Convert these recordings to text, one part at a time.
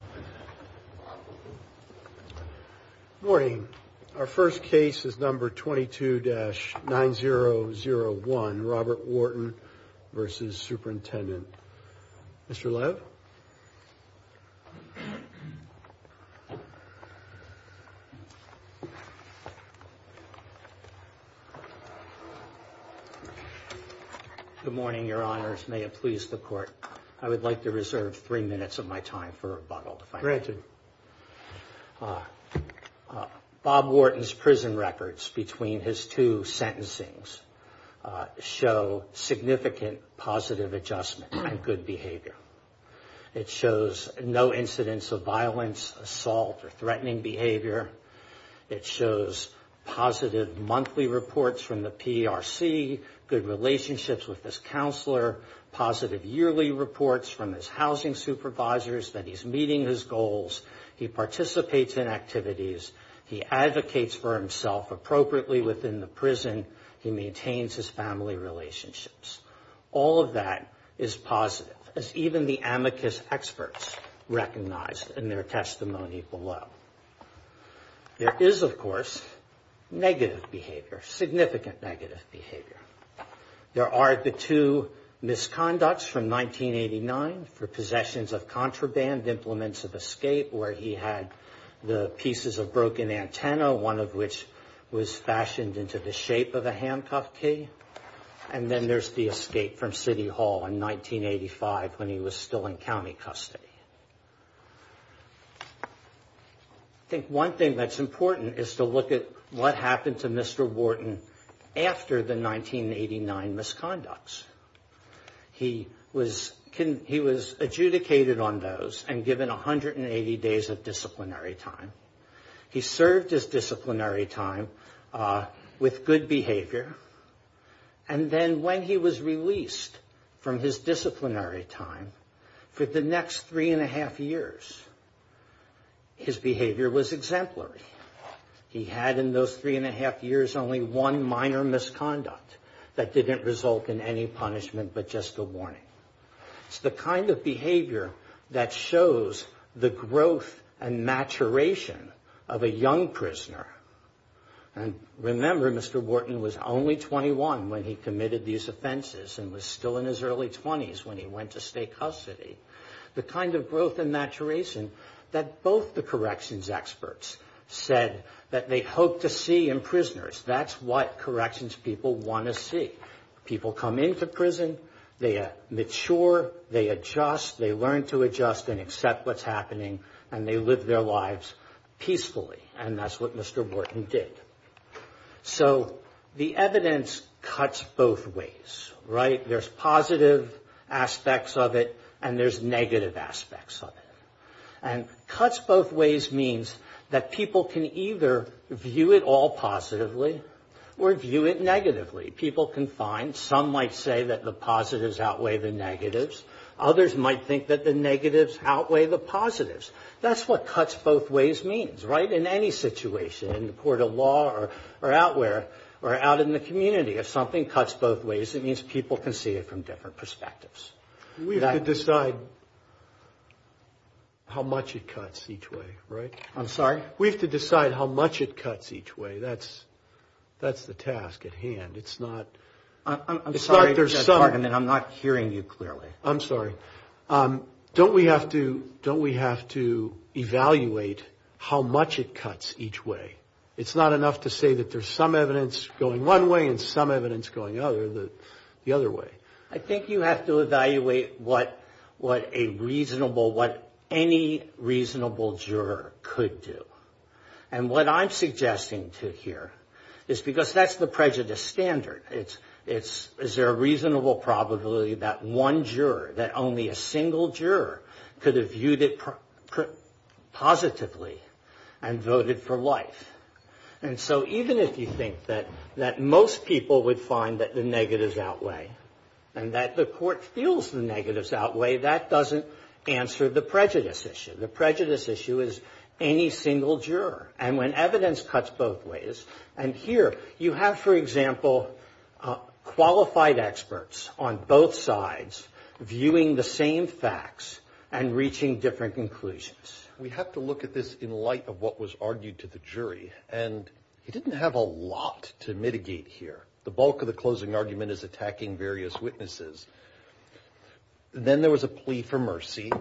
Good morning. Our first case is number 22-9001, Robert Wharton v. Superintendent. Mr. Lev? Good morning, your honors. May it please the court, I would like to reserve three minutes of my time for rebuttal. Granted. Bob Wharton's prison records between his two sentencings show significant positive adjustment and good behavior. It shows no incidents of violence, assault, or threatening behavior. It shows positive monthly reports from the PRC, good relationships with his counselor, positive yearly reports from his housing supervisors that he's meeting his goals, he participates in activities, he advocates for himself appropriately within the prison, he maintains his family relationships. All of that is positive, as even the amicus experts recognized in their testimony below. There is, of course, negative behavior, significant negative behavior. There are the two misconducts from 1989 for possessions of contraband, implements of escape, where he had the pieces of broken antenna, one of which was fashioned into the shape of a handcuff key, and then there's the escape from City Hall in 1985 when he was still in county custody. I think one thing that's important is to look at what happened to Mr. Wharton after the 1989 misconducts. He was adjudicated on those and given 180 days of disciplinary time. He served his disciplinary time with good behavior, and then when he was released from his disciplinary time, for the next three and a half years, his behavior was exemplary. He had in those three and a half years only one minor misconduct that didn't result in any punishment but just a warning. It's the kind of behavior that shows the growth and maturation of a young prisoner. And remember, Mr. Wharton was only 21 when he committed these offenses and was still in his early 20s when he went to state custody. The kind of growth and maturation that both the corrections experts said that they hoped to see in prisoners, that's what corrections people want to see. People come into prison, they mature, they adjust, they learn to adjust and accept what's happening, and they live their lives peacefully, and that's what Mr. Wharton did. So the evidence cuts both ways, right? There's positive aspects of it and there's negative aspects of it. And cuts both ways means that people can either view it all positively or view it negatively. People can find some might say that the positives outweigh the negatives. Others might think that the negatives outweigh the positives. That's what cuts both ways means, right? In any situation, in the court of law or out in the community, if something cuts both ways, it means people can see it from different perspectives. We have to decide how much it cuts each way, right? I'm sorry? We have to decide how much it cuts each way. That's the task at hand. I'm sorry for that argument. I'm not hearing you clearly. I'm sorry. Don't we have to evaluate how much it cuts each way? It's not enough to say that there's some evidence going one way and some evidence going the other way. I think you have to evaluate what a reasonable, what any reasonable juror could do. And what I'm suggesting to here is because that's the prejudice standard. Is there a reasonable probability that one juror, that only a single juror could have viewed it positively and voted for life? And so even if you think that most people would find that the negatives outweigh and that the court feels the negatives outweigh, that doesn't answer the prejudice issue. The prejudice issue is any single juror. And when evidence cuts both ways, and here you have, for example, qualified experts on both sides viewing the same facts and reaching different conclusions. We have to look at this in light of what was argued to the jury, and he didn't have a lot to mitigate here. The bulk of the closing argument is attacking various witnesses. Then there was a plea for mercy.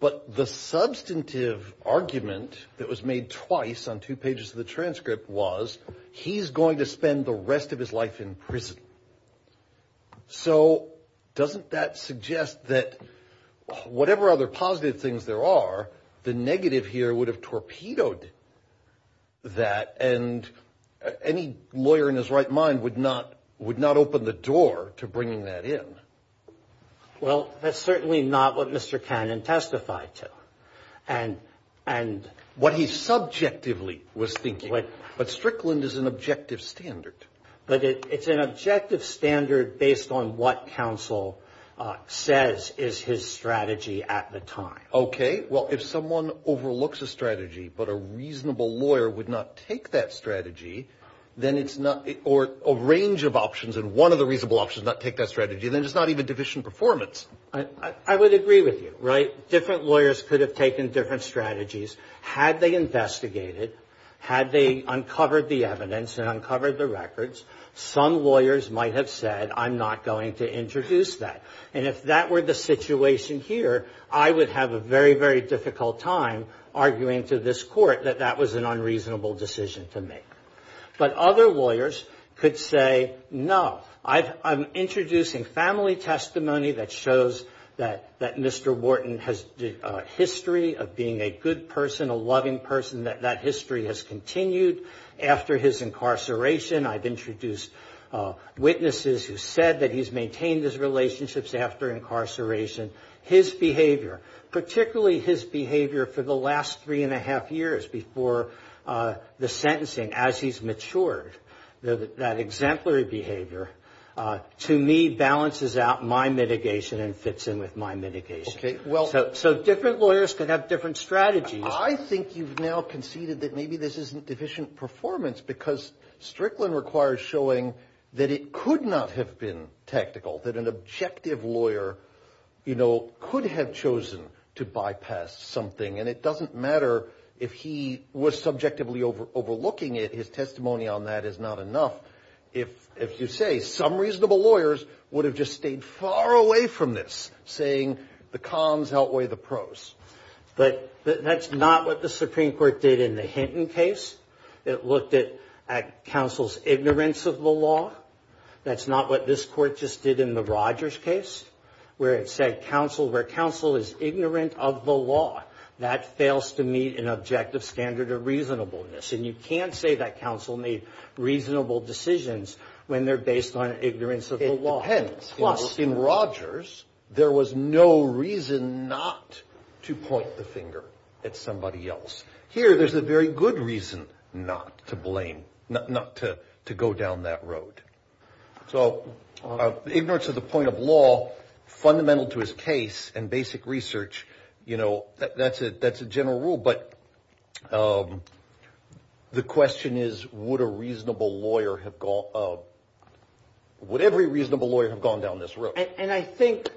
But the substantive argument that was made twice on two pages of the transcript was, he's going to spend the rest of his life in prison. So doesn't that suggest that whatever other positive things there are, the negative here would have torpedoed that, and any lawyer in his right mind would not open the door to bringing that in? Well, that's certainly not what Mr. Cannon testified to. What he subjectively was thinking. But Strickland is an objective standard. But it's an objective standard based on what counsel says is his strategy at the time. Okay. Well, if someone overlooks a strategy, but a reasonable lawyer would not take that strategy, then it's not or a range of options and one of the reasonable options not take that strategy, then it's not even division performance. I would agree with you. Right? Different lawyers could have taken different strategies had they investigated, had they uncovered the evidence and uncovered the records. Some lawyers might have said, I'm not going to introduce that. And if that were the situation here, I would have a very, very difficult time arguing to this court that that was an unreasonable decision to make. But other lawyers could say, no. I'm introducing family testimony that shows that Mr. Wharton has a history of being a good person, a loving person, that that history has continued after his incarceration. I've introduced witnesses who said that he's maintained his relationships after incarceration. His behavior, particularly his behavior for the last three and a half years before the sentencing, as he's matured, that exemplary behavior to me balances out my mitigation and fits in with my mitigation. Okay. So different lawyers could have different strategies. I think you've now conceded that maybe this isn't division performance because Strickland requires showing that it could not have been tactical, that an objective lawyer, you know, could have chosen to bypass something. And it doesn't matter if he was subjectively overlooking it. His testimony on that is not enough. If you say some reasonable lawyers would have just stayed far away from this, saying the cons outweigh the pros. But that's not what the Supreme Court did in the Hinton case. It looked at counsel's ignorance of the law. That's not what this court just did in the Rogers case where it said counsel, where counsel is ignorant of the law, that fails to meet an objective standard of reasonableness. And you can't say that counsel made reasonable decisions when they're based on ignorance of the law. Hence, in Rogers, there was no reason not to point the finger at somebody else. Here there's a very good reason not to blame, not to go down that road. So ignorance of the point of law, fundamental to his case and basic research, you know, that's a general rule. But the question is, would a reasonable lawyer have gone, would every reasonable lawyer have gone down this road? And I think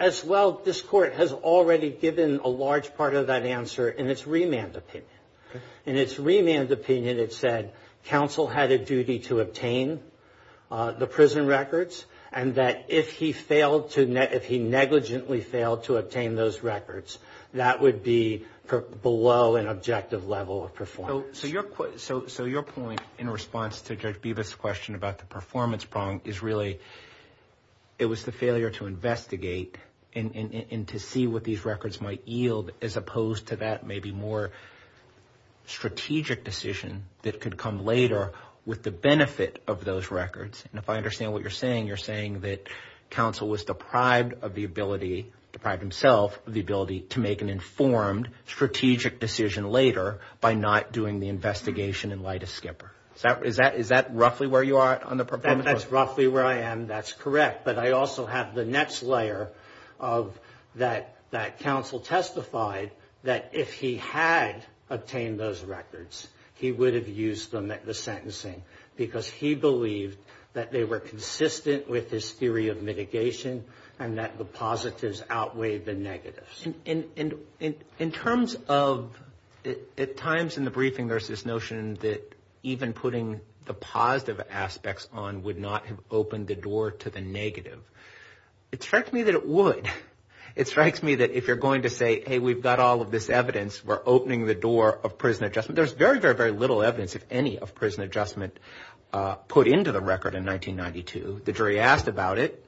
as well, this court has already given a large part of that answer in its remand opinion. In its remand opinion, it said counsel had a duty to obtain the prison records, and that if he failed to, if he negligently failed to obtain those records, that would be below an objective level of performance. So your point in response to Judge Beavis' question about the performance problem is really, it was the failure to investigate and to see what these records might yield as opposed to that maybe more strategic decision that could come later with the benefit of those records. And if I understand what you're saying, you're saying that counsel was deprived of the ability, deprived himself of the ability, to make an informed strategic decision later by not doing the investigation in light of Skipper. Is that roughly where you are on the performance? That's roughly where I am. That's correct. But I also have the next layer of that counsel testified that if he had obtained those records, he would have used them at the sentencing because he believed that they were consistent with his theory of mitigation and that the positives outweighed the negatives. In terms of at times in the briefing there's this notion that even putting the positive aspects on would not have opened the door to the negative. It strikes me that it would. It strikes me that if you're going to say, hey, we've got all of this evidence. We're opening the door of prison adjustment. There's very, very, very little evidence, if any, of prison adjustment put into the record in 1992. The jury asked about it.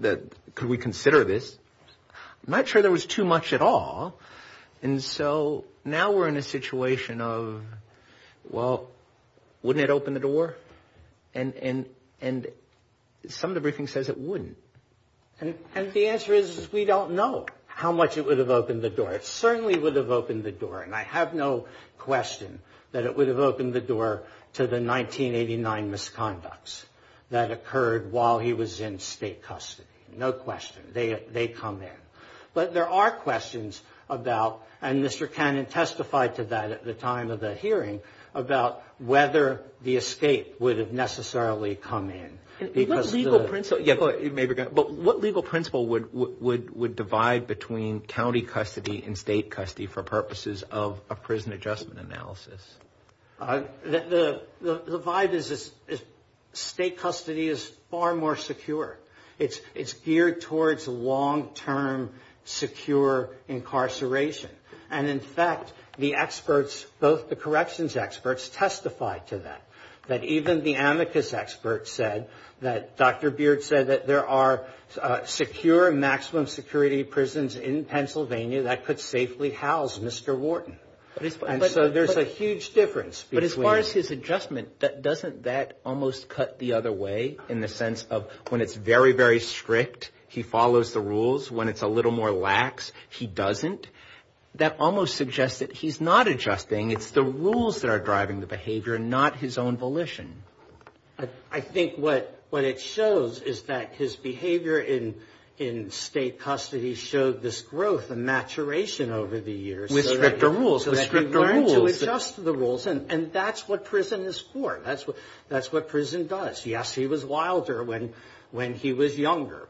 Could we consider this? Not sure there was too much at all. And so now we're in a situation of, well, wouldn't it open the door? And some of the briefing says it wouldn't. And the answer is we don't know how much it would have opened the door. It certainly would have opened the door. And I have no question that it would have opened the door to the 1989 misconducts that occurred while he was in state custody. No question. They come in. But there are questions about, and Mr. Cannon testified to that at the time of the hearing, about whether the escape would have necessarily come in. But what legal principle would divide between county custody and state custody for purposes of a prison adjustment analysis? The vibe is state custody is far more secure. It's geared towards long-term secure incarceration. And, in fact, the experts, both the corrections experts, testified to that, that even the amicus experts said that Dr. Beard said that there are secure maximum security prisons in Pennsylvania that could safely house Mr. Wharton. And so there's a huge difference. But as far as his adjustment, doesn't that almost cut the other way in the sense of when it's very, very strict, he follows the rules? When it's a little more lax, he doesn't? That almost suggests that he's not adjusting. It's the rules that are driving the behavior, not his own volition. I think what it shows is that his behavior in state custody showed this growth and maturation over the years. With stricter rules. With stricter rules. So that he learned to adjust to the rules. And that's what prison is for. That's what prison does. Yes, he was wilder when he was younger.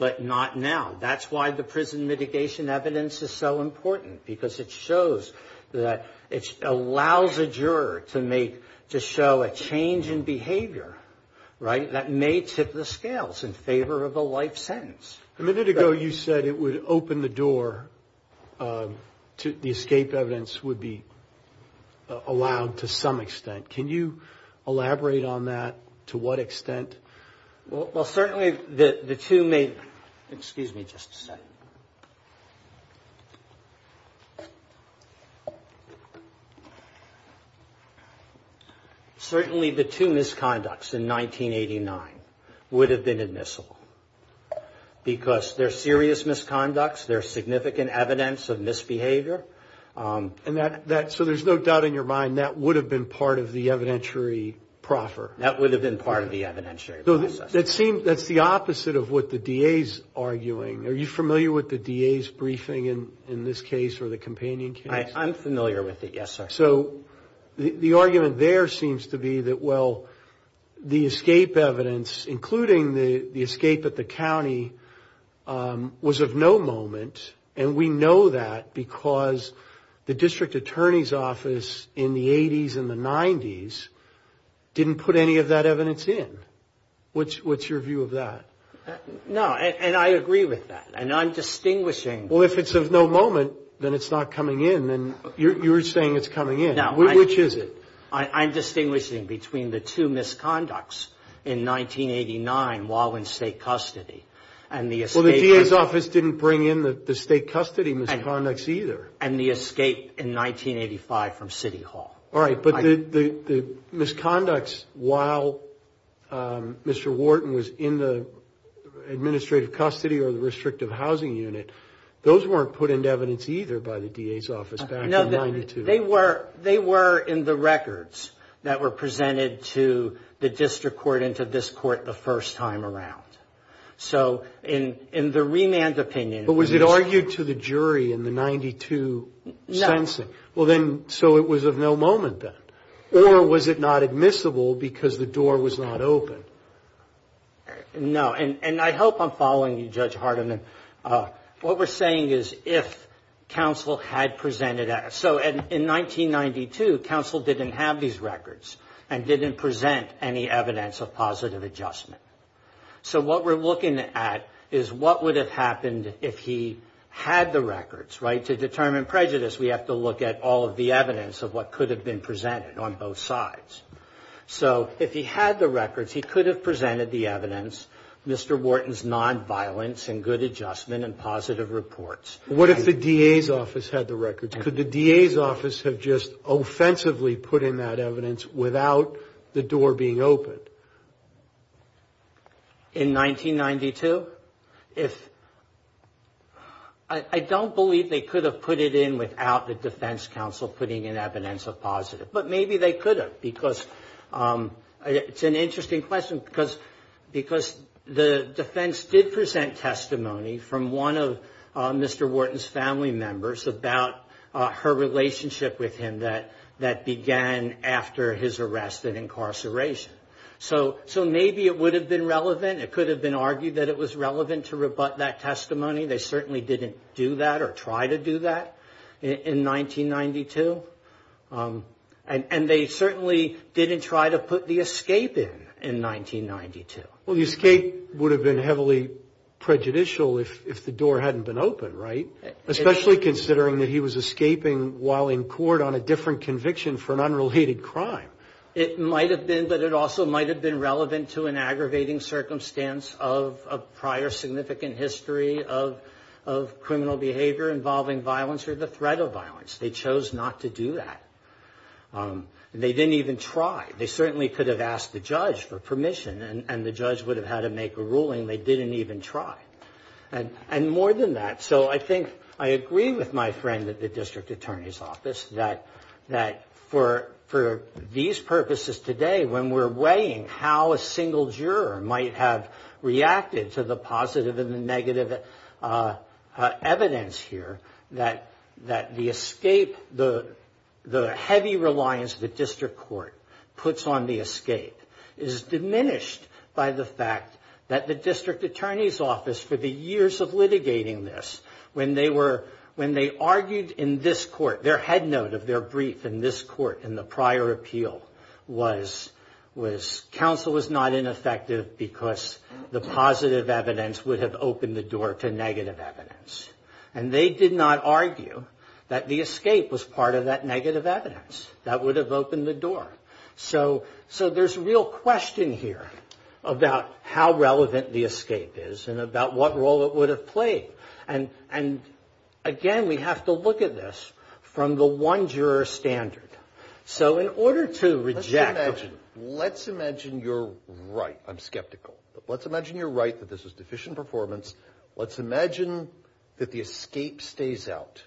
But not now. That's why the prison mitigation evidence is so important. Because it shows that it allows a juror to show a change in behavior, right, that may tip the scales in favor of a life sentence. A minute ago you said it would open the door, the escape evidence would be allowed to some extent. Can you elaborate on that, to what extent? Well, certainly the two may, excuse me just a second. Certainly the two misconducts in 1989 would have been admissible. Because they're serious misconducts, they're significant evidence of misbehavior. So there's no doubt in your mind that would have been part of the evidentiary proffer. That would have been part of the evidentiary process. That's the opposite of what the DA's arguing. Are you familiar with the DA's briefing in this case or the companion case? I'm familiar with it, yes, sir. So the argument there seems to be that, well, the escape evidence, including the escape at the county, was of no moment. And we know that because the district attorney's office in the 80s and the 90s didn't put any of that evidence in. What's your view of that? No, and I agree with that. And I'm distinguishing. Well, if it's of no moment, then it's not coming in. And you're saying it's coming in. Which is it? I'm distinguishing between the two misconducts in 1989 while in state custody. Well, the DA's office didn't bring in the state custody misconducts either. And the escape in 1985 from City Hall. All right, but the misconducts while Mr. Wharton was in the administrative custody or the restrictive housing unit, those weren't put into evidence either by the DA's office back in 92. They were in the records that were presented to the district court and to this court the first time around. So in the remand opinion. But was it argued to the jury in the 92 sensing? No. Well, then, so it was of no moment then. Or was it not admissible because the door was not open? No, and I hope I'm following you, Judge Hardiman. What we're saying is if counsel had presented, so in 1992, counsel didn't have these records and didn't present any evidence of positive adjustment. So what we're looking at is what would have happened if he had the records, right? To determine prejudice, we have to look at all of the evidence of what could have been presented on both sides. So if he had the records, he could have presented the evidence. Mr. Wharton's nonviolence and good adjustment and positive reports. What if the DA's office had the records? Could the DA's office have just offensively put in that evidence without the door being open? In 1992, if I don't believe they could have put it in without the defense counsel putting in evidence of positive. But maybe they could have because it's an interesting question because the defense did present testimony from one of Mr. Wharton's family members about her relationship with him that began after his arrest and incarceration. So maybe it would have been relevant. It could have been argued that it was relevant to rebut that testimony. They certainly didn't do that or try to do that in 1992. And they certainly didn't try to put the escape in in 1992. Well, the escape would have been heavily prejudicial if the door hadn't been open, right? Especially considering that he was escaping while in court on a different conviction for an unrelated crime. It might have been, but it also might have been relevant to an aggravating circumstance of prior significant history of criminal behavior involving violence or the threat of violence. They chose not to do that. They didn't even try. They certainly could have asked the judge for permission, and the judge would have had to make a ruling. They didn't even try. And more than that, so I think I agree with my friend at the district attorney's office that for these purposes today, when we're weighing how a single juror might have reacted to the positive and the negative evidence here, that the escape, the heavy reliance the district court puts on the escape, is diminished by the fact that the district attorney's office, for the years of litigating this, when they argued in this court, their head note of their brief in this court in the prior appeal was, counsel was not ineffective because the positive evidence would have opened the door to negative evidence. And they did not argue that the escape was part of that negative evidence. That would have opened the door. So there's a real question here about how relevant the escape is and about what role it would have played. And, again, we have to look at this from the one juror standard. So in order to reject. Let's imagine you're right. I'm skeptical. Let's imagine you're right that this was deficient performance. Let's imagine that the escape stays out.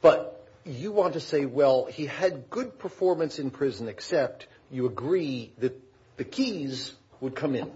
But you want to say, well, he had good performance in prison, except you agree that the keys would come in.